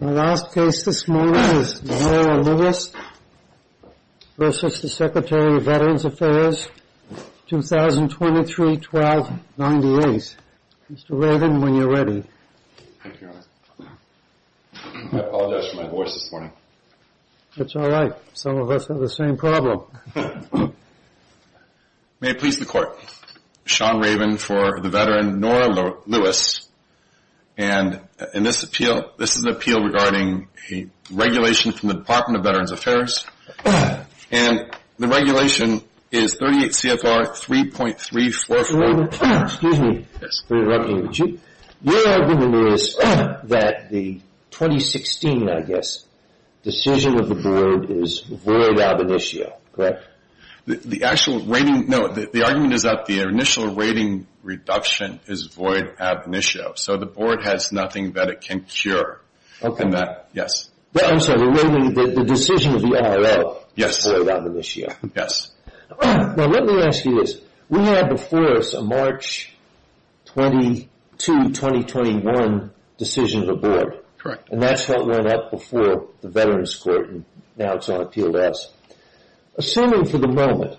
My last case this morning is Nora Lewis v. Secretary of Veterans Affairs, 2023-12-98. Mr. Raven, when you're ready. Thank you, Your Honor. I apologize for my voice this morning. That's all right. Some of us have the same problem. May it please the Court. Sean Raven for the veteran, Nora Lewis. And this is an appeal regarding a regulation from the Department of Veterans Affairs. And the regulation is 38 CFR 3.344. Your argument is that the 2016, I guess, decision of the Board is void ab initio, correct? The argument is that the initial rating reduction is void ab initio, so the Board has nothing that it can cure. I'm sorry, the decision of the IRL is void ab initio. Yes. Now, let me ask you this. We had before us a March 22, 2021 decision of the Board. Correct. And that's what went up before the Veterans Court, and now it's on appeal to us. Assuming for the moment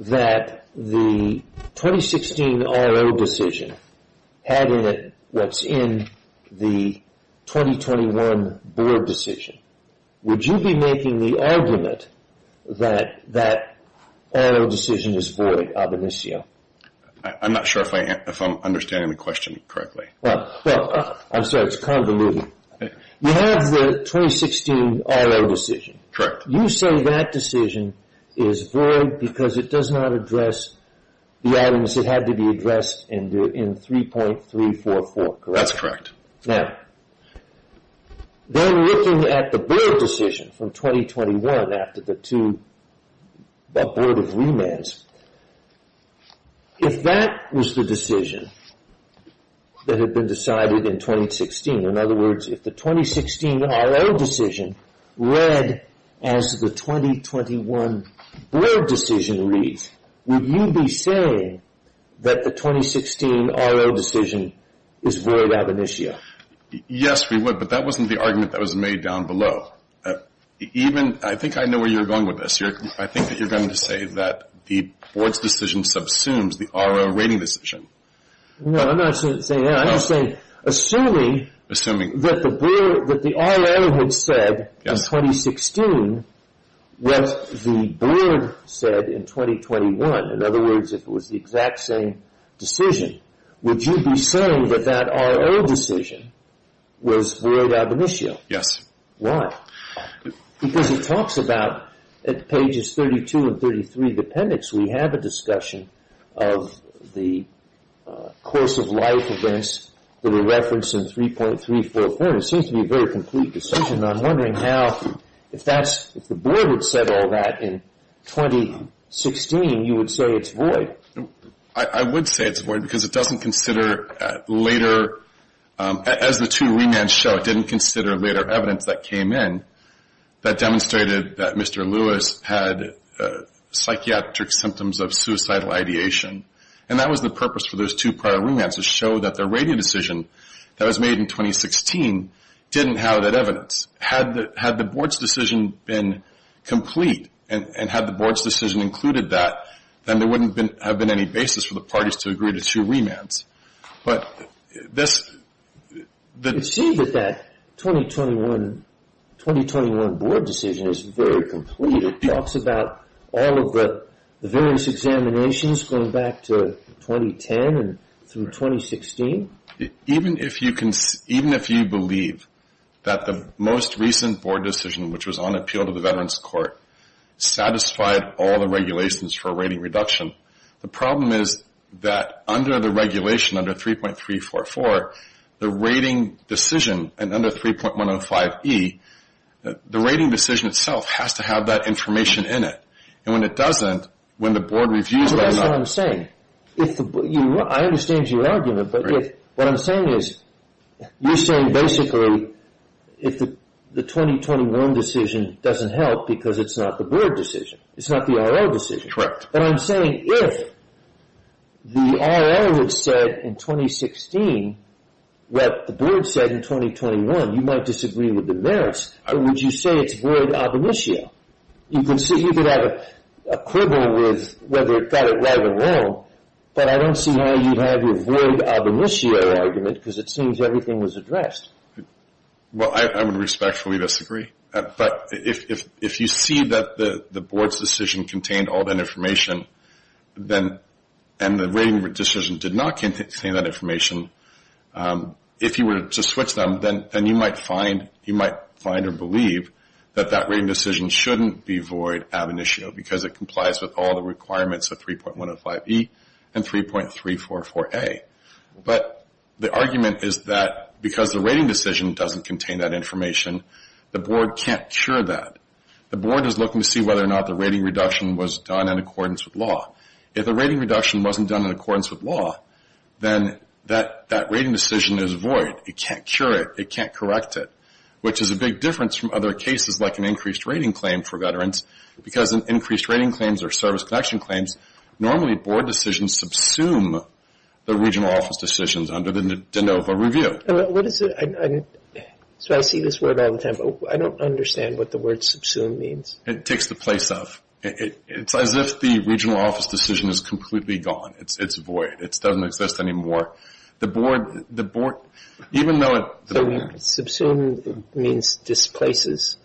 that the 2016 IRL decision had in it what's in the 2021 Board decision, would you be making the argument that that IRL decision is void ab initio? I'm not sure if I'm understanding the question correctly. Well, I'm sorry, it's convoluted. You have the 2016 IRL decision. Correct. You say that decision is void because it does not address the items that had to be addressed in 3.344, correct? That's correct. Now, then looking at the Board decision from 2021 after the two Board of Remands, if that was the decision that had been decided in 2016, in other words, if the 2016 IRL decision read as the 2021 Board decision reads, would you be saying that the 2016 IRL decision is void ab initio? Yes, we would, but that wasn't the argument that was made down below. I think I know where you're going with this. I think that you're going to say that the Board's decision subsumes the IRL rating decision. No, I'm not saying that. Assuming that the IRL had said in 2016 what the Board said in 2021, in other words, if it was the exact same decision, would you be saying that that IRL decision was void ab initio? Yes. Why? Because it talks about, at pages 32 and 33 of the appendix, we have a discussion of the course of life events that are referenced in 3.344. It seems to be a very complete decision, and I'm wondering how, if the Board had said all that in 2016, you would say it's void. I would say it's void because it doesn't consider later, as the two remands show, it didn't consider later evidence that came in that demonstrated that Mr. Lewis had psychiatric symptoms of suicidal ideation. And that was the purpose for those two prior remands, to show that the rating decision that was made in 2016 didn't have that evidence. Had the Board's decision been complete, and had the Board's decision included that, then there wouldn't have been any basis for the parties to agree to two remands. You see that that 2021 Board decision is very complete. It talks about all of the various examinations going back to 2010 and through 2016. Even if you believe that the most recent Board decision, which was on appeal to the Veterans Court, satisfied all the regulations for a rating reduction, the problem is that under the regulation, under 3.344, the rating decision, and under 3.105e, the rating decision itself has to have that information in it. And when it doesn't, when the Board reviews it or not. That's what I'm saying. I understand your argument. But what I'm saying is, you're saying basically, if the 2021 decision doesn't help because it's not the Board decision, it's not the R.L. decision. Correct. But I'm saying if the R.L. had said in 2016 what the Board said in 2021, you might disagree with the merits. Would you say it's void ab initio? You could have a quibble with whether it got it right or wrong, but I don't see how you have your void ab initio argument because it seems everything was addressed. Well, I would respectfully disagree. But if you see that the Board's decision contained all that information, and the rating decision did not contain that information, if you were to switch them, then you might find or believe that that rating decision shouldn't be void ab initio because it complies with all the requirements of 3.105e and 3.344a. But the argument is that because the rating decision doesn't contain that information, the Board can't cure that. The Board is looking to see whether or not the rating reduction was done in accordance with law. If the rating reduction wasn't done in accordance with law, then that rating decision is void. It can't cure it. It can't correct it, which is a big difference from other cases like an increased rating claim for veterans because in increased rating claims or service collection claims, normally Board decisions subsume the regional office decisions under the de novo review. So I see this word all the time, but I don't understand what the word subsume means. It takes the place of. It's as if the regional office decision is completely gone. It's void. It doesn't exist anymore. The Board, even though it. So subsume means displaces.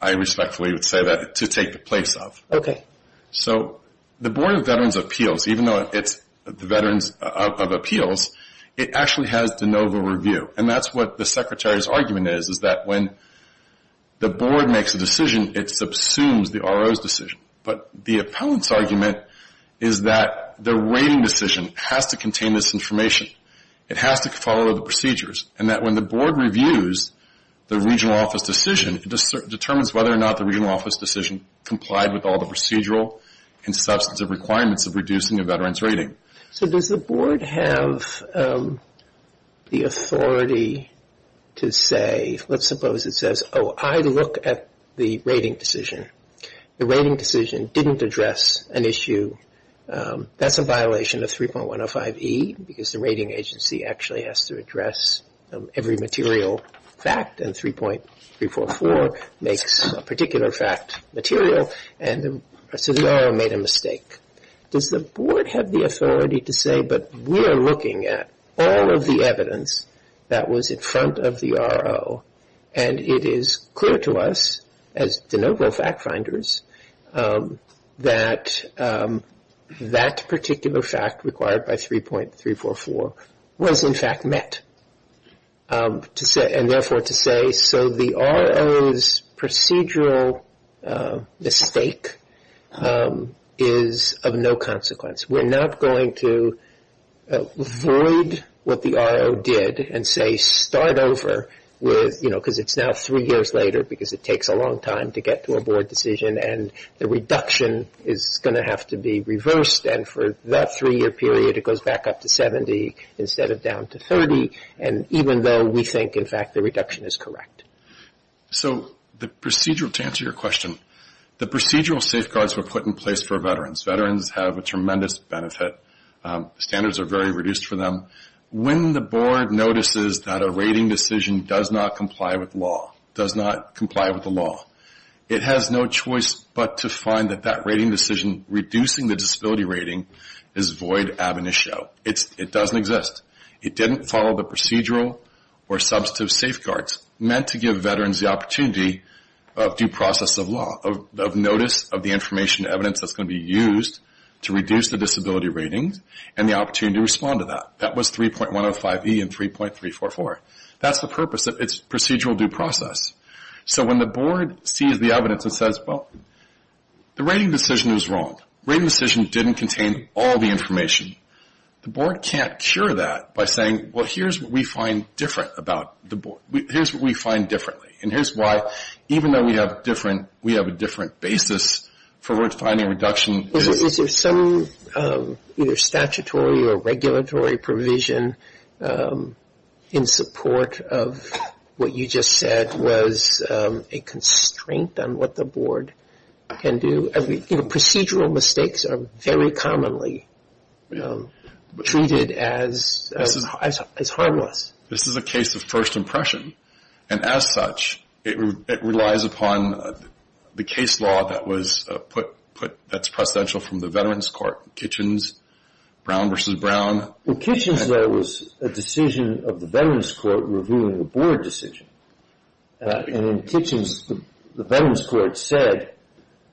I respectfully would say that, to take the place of. Okay. So the Board of Veterans' Appeals, even though it's the Veterans of Appeals, it actually has de novo review. And that's what the Secretary's argument is, is that when the Board makes a decision, it subsumes the RO's decision. But the appellant's argument is that the rating decision has to contain this information. It has to follow the procedures. And that when the Board reviews the regional office decision, it determines whether or not the regional office decision complied with all the procedural and substantive requirements of reducing a veteran's rating. So does the Board have the authority to say, let's suppose it says, oh, I look at the rating decision. The rating decision didn't address an issue. That's a violation of 3.105E, because the rating agency actually has to address every material fact, and 3.344 makes a particular fact material, and so the RO made a mistake. Does the Board have the authority to say, but we're looking at all of the evidence that was in front of the RO, and it is clear to us, as de novo fact finders, that that particular fact required by 3.344 was in fact met, and therefore to say, so the RO's procedural mistake is of no consequence. We're not going to avoid what the RO did and say start over with, you know, because it's now three years later because it takes a long time to get to a Board decision, and the reduction is going to have to be reversed. And for that three-year period, it goes back up to 70 instead of down to 30, and even though we think, in fact, the reduction is correct. So the procedural, to answer your question, the procedural safeguards were put in place for veterans. Veterans have a tremendous benefit. Standards are very reduced for them. When the Board notices that a rating decision does not comply with law, does not comply with the law, it has no choice but to find that that rating decision reducing the disability rating is void ab initio. It doesn't exist. It didn't follow the procedural or substantive safeguards meant to give veterans the opportunity of due process of law, of notice of the information evidence that's going to be used to reduce the disability ratings and the opportunity to respond to that. That was 3.105E and 3.344. That's the purpose. It's procedural due process. So when the Board sees the evidence and says, well, the rating decision is wrong. The rating decision didn't contain all the information. The Board can't cure that by saying, well, here's what we find different about the Board. Here's what we find differently, and here's why even though we have a different basis for defining reduction. Is there some either statutory or regulatory provision in support of what you just said was a constraint on what the Board can do? Procedural mistakes are very commonly treated as harmless. This is a case of first impression. And as such, it relies upon the case law that's presidential from the Veterans Court, Kitchens, Brown v. Brown. In Kitchens, there was a decision of the Veterans Court reviewing the Board decision. And in Kitchens, the Veterans Court said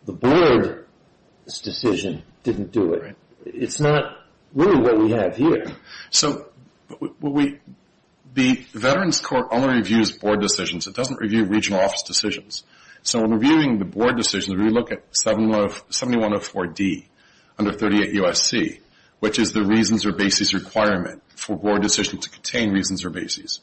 the Board's decision didn't do it. It's not really what we have here. So the Veterans Court only reviews Board decisions. It doesn't review regional office decisions. So when reviewing the Board decisions, we look at 7104D under 38 U.S.C., which is the reasons or basis requirement for a Board decision to contain reasons or basis.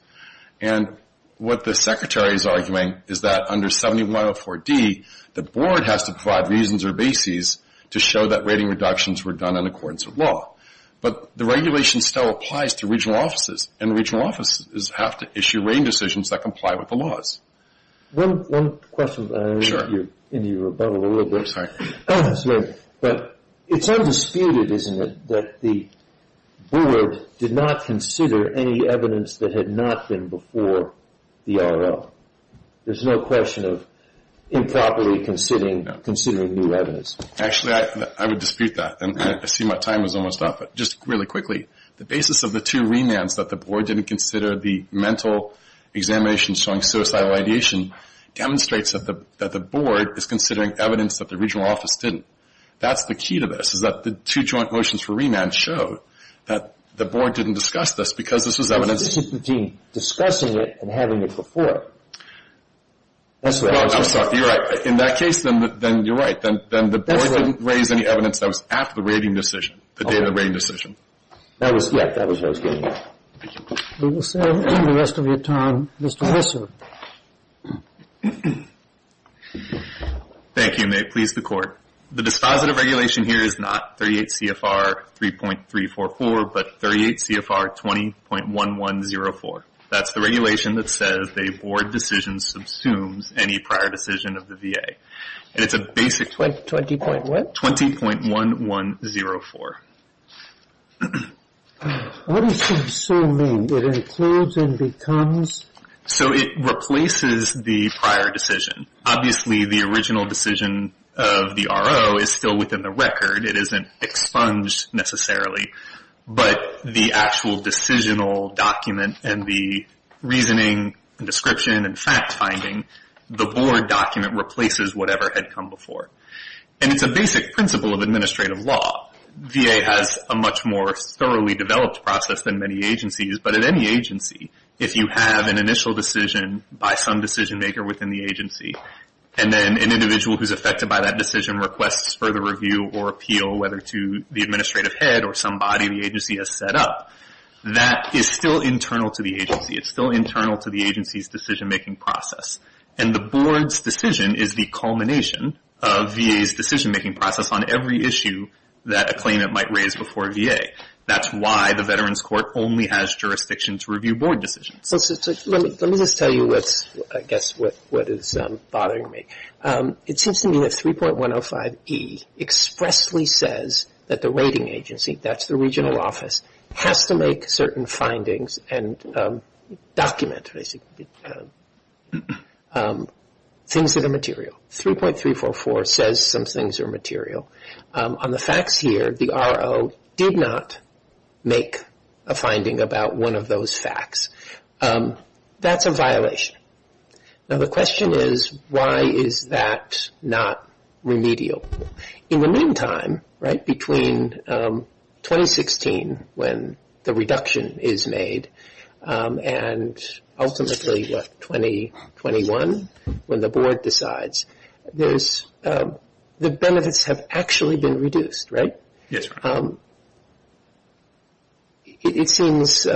And what the Secretary is arguing is that under 7104D, the Board has to provide reasons or basis to show that rating reductions were done in accordance with law. But the regulation still applies to regional offices, and regional offices have to issue rating decisions that comply with the laws. One question. I know you're in your rebuttal a little bit. But it's undisputed, isn't it, that the Board did not consider any evidence that had not been before the RL? There's no question of improperly considering new evidence. Actually, I would dispute that, and I see my time is almost up. But just really quickly, the basis of the two remands that the Board didn't consider, the mental examination showing suicidal ideation, demonstrates that the Board is considering evidence that the regional office didn't. That's the key to this, is that the two joint motions for remand showed that the Board didn't discuss this, because this was evidence. But this is between discussing it and having it before. I'm sorry, you're right. In that case, then you're right. Then the Board didn't raise any evidence that was after the rating decision, the day of the rating decision. That was what I was getting at. We will serve the rest of your time. Mr. Messer. Thank you, and may it please the Court. The dispositive regulation here is not 38 CFR 3.344, but 38 CFR 20.1104. That's the regulation that says a Board decision subsumes any prior decision of the VA. 20. what? 20.1104. What does that so mean? It includes and becomes? So it replaces the prior decision. Obviously, the original decision of the RO is still within the record. It isn't expunged, necessarily. But the actual decisional document and the reasoning and description and fact-finding, the Board document replaces whatever had come before. And it's a basic principle of administrative law. VA has a much more thoroughly developed process than many agencies. But at any agency, if you have an initial decision by some decision-maker within the agency, and then an individual who's affected by that decision requests further review or appeal, whether to the administrative head or somebody the agency has set up, that is still internal to the agency. It's still internal to the agency's decision-making process. And the Board's decision is the culmination of VA's decision-making process on every issue that a claimant might raise before VA. That's why the Veterans Court only has jurisdiction to review Board decisions. So let me just tell you, I guess, what is bothering me. It seems to me that 3.105E expressly says that the rating agency, that's the regional office, has to make certain findings and document things that are material. 3.344 says some things are material. On the facts here, the RO did not make a finding about one of those facts. That's a violation. Now the question is, why is that not remedial? In the meantime, right, between 2016, when the reduction is made, and ultimately, what, 2021, when the Board decides, the benefits have actually been reduced, right? Yes, sir. It seems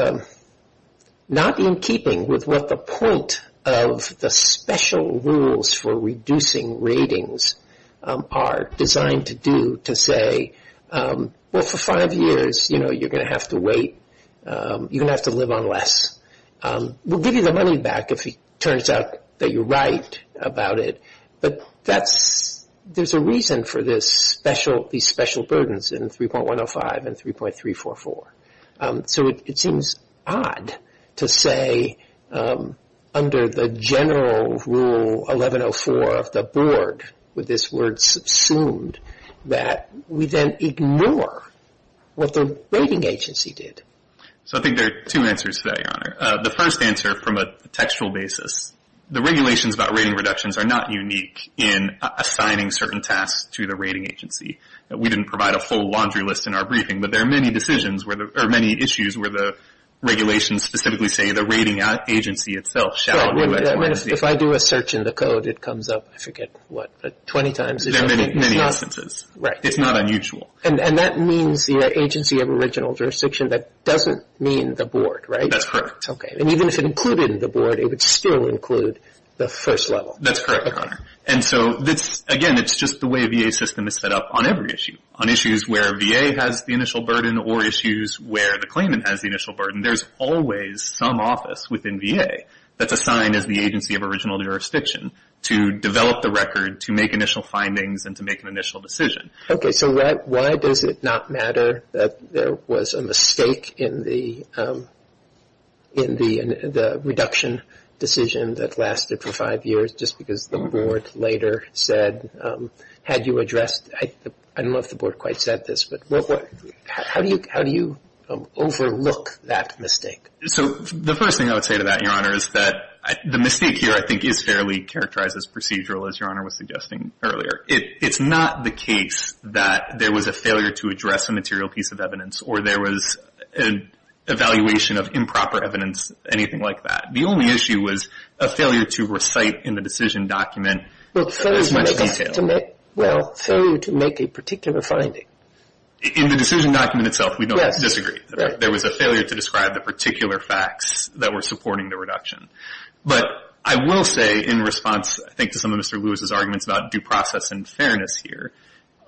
not in keeping with what the point of the special rules for reducing ratings are designed to do, to say, well, for five years, you know, you're going to have to wait. You're going to have to live on less. We'll give you the money back if it turns out that you're right about it. But that's, there's a reason for this special, these special burdens in 3.105 and 3.344. So it seems odd to say under the general rule 1104 of the Board, with this word subsumed, that we then ignore what the rating agency did. So I think there are two answers to that, Your Honor. The first answer from a textual basis, the regulations about rating reductions are not unique in assigning certain tasks to the rating agency. We didn't provide a full laundry list in our briefing, but there are many decisions where, or many issues where the regulations specifically say the rating agency itself. If I do a search in the code, it comes up, I forget what, 20 times. There are many instances. Right. It's not unusual. And that means the agency of original jurisdiction, that doesn't mean the Board, right? That's correct. Okay. And even if it included the Board, it would still include the first level. That's correct, Your Honor. And so this, again, it's just the way VA system is set up on every issue. On issues where VA has the initial burden or issues where the claimant has the initial burden, there's always some office within VA that's assigned as the agency of original jurisdiction to develop the record, to make initial findings, and to make an initial decision. Okay. So why does it not matter that there was a mistake in the reduction decision that lasted for five years, just because the Board later said, had you addressed, I don't know if the Board quite said this, but how do you overlook that mistake? So the first thing I would say to that, Your Honor, is that the mistake here I think is fairly characterized as procedural, as Your Honor was suggesting earlier. It's not the case that there was a failure to address a material piece of evidence or there was an evaluation of improper evidence, anything like that. The only issue was a failure to recite in the decision document as much detail. Well, failure to make a particular finding. In the decision document itself, we don't disagree. There was a failure to describe the particular facts that were supporting the reduction. But I will say in response, I think, to some of Mr. Lewis's arguments about due process and fairness here,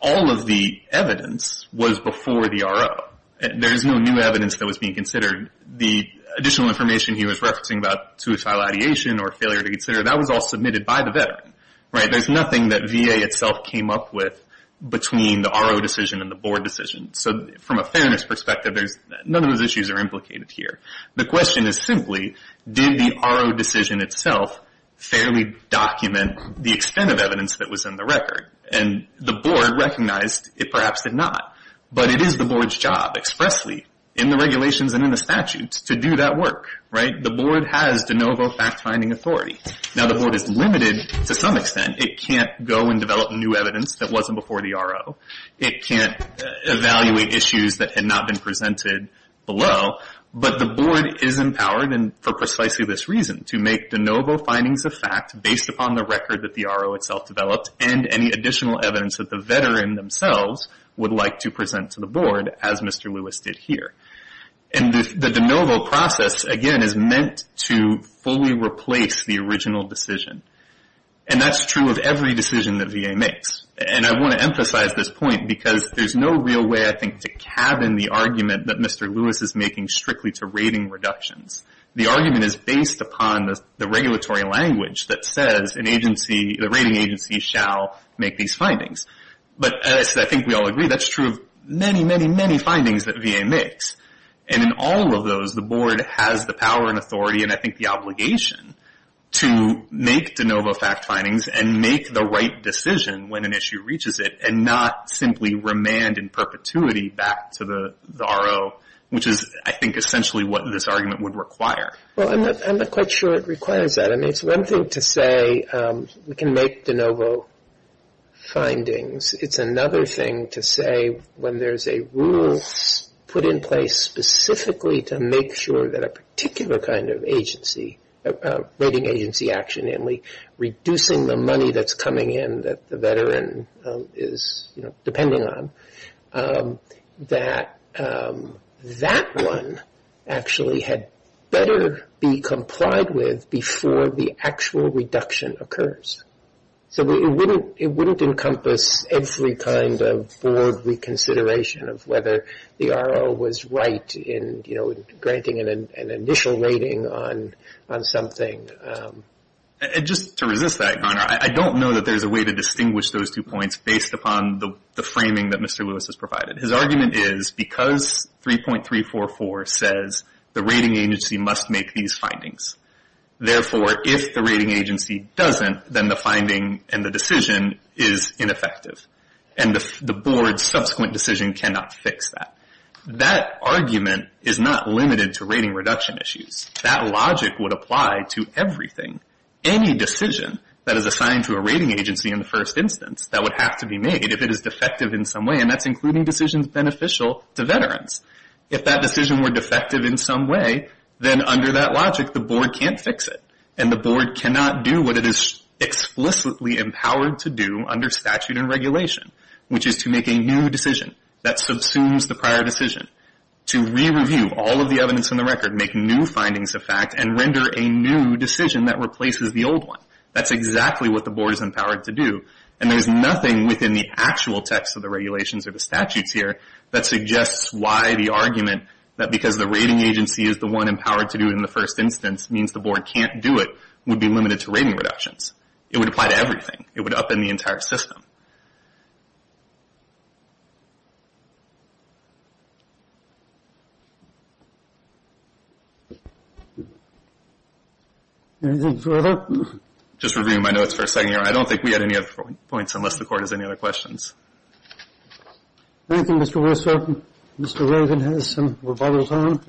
all of the evidence was before the RO. There is no new evidence that was being considered. The additional information he was referencing about suicidal ideation or failure to consider, that was all submitted by the veteran, right? There's nothing that VA itself came up with between the RO decision and the Board decision. So from a fairness perspective, none of those issues are implicated here. The question is simply, did the RO decision itself fairly document the extent of evidence that was in the record? And the Board recognized it perhaps did not. But it is the Board's job expressly in the regulations and in the statutes to do that work, right? The Board has de novo fact-finding authority. Now, the Board is limited to some extent. It can't go and develop new evidence that wasn't before the RO. It can't evaluate issues that had not been presented below. But the Board is empowered for precisely this reason, to make de novo findings of fact based upon the record that the RO itself developed and any additional evidence that the veteran themselves would like to present to the Board, as Mr. Lewis did here. And the de novo process, again, is meant to fully replace the original decision. And that's true of every decision that VA makes. And I want to emphasize this point because there's no real way, I think, to cabin the argument that Mr. Lewis is making strictly to rating reductions. The argument is based upon the regulatory language that says the rating agency shall make these findings. But as I think we all agree, that's true of many, many, many findings that VA makes. And in all of those, the Board has the power and authority, and I think the obligation, to make de novo fact findings and make the right decision when an issue reaches it and not simply remand in perpetuity back to the RO, which is, I think, essentially what this argument would require. Well, I'm not quite sure it requires that. I mean, it's one thing to say we can make de novo findings. It's another thing to say when there's a rule put in place specifically to make sure that a particular kind of agency, rating agency action, namely reducing the money that's coming in that the veteran is depending on, that that one actually had better be complied with before the actual reduction occurs. So it wouldn't encompass every kind of Board reconsideration of whether the RO was right in, you know, putting an initial rating on something. And just to resist that, Connor, I don't know that there's a way to distinguish those two points based upon the framing that Mr. Lewis has provided. His argument is because 3.344 says the rating agency must make these findings. Therefore, if the rating agency doesn't, then the finding and the decision is ineffective. And the Board's subsequent decision cannot fix that. That argument is not limited to rating reduction issues. That logic would apply to everything, any decision that is assigned to a rating agency in the first instance that would have to be made if it is defective in some way. And that's including decisions beneficial to veterans. If that decision were defective in some way, then under that logic, the Board can't fix it. And the Board cannot do what it is explicitly empowered to do under statute and regulation, which is to make a new decision that subsumes the prior decision, to re-review all of the evidence in the record, make new findings of fact, and render a new decision that replaces the old one. That's exactly what the Board is empowered to do. And there's nothing within the actual text of the regulations or the statutes here that suggests why the argument that because the rating agency is the one empowered to do it in the first instance means the Board can't do it would be limited to rating reductions. It would apply to everything. It would upend the entire system. Anything further? Just reviewing my notes for a second here. I don't think we had any other points unless the Court has any other questions. Thank you, Mr. Wilson. Mr. Rogan has some rebuttals on.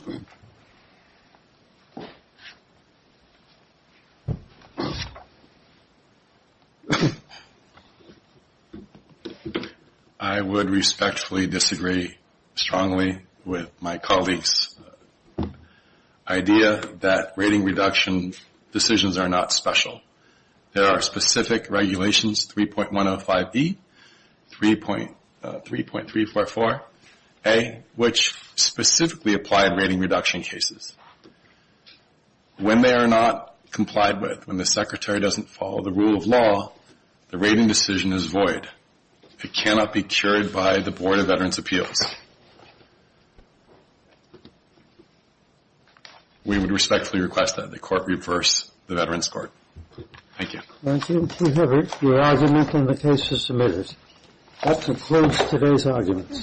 I would respectfully disagree strongly with my colleagues' idea that rating reduction decisions are not special. There are specific regulations, 3.105E, 3.344A, which specifically apply to rating reduction cases. When they are not complied with, when the Secretary doesn't follow the rule of law, the rating decision is void. It cannot be cured by the Board of Veterans' Appeals. We would respectfully request that the Court reverse the Veterans' Court. Thank you. Thank you, Mr. Hibbert. Your argument in the case is submitted. That concludes today's arguments.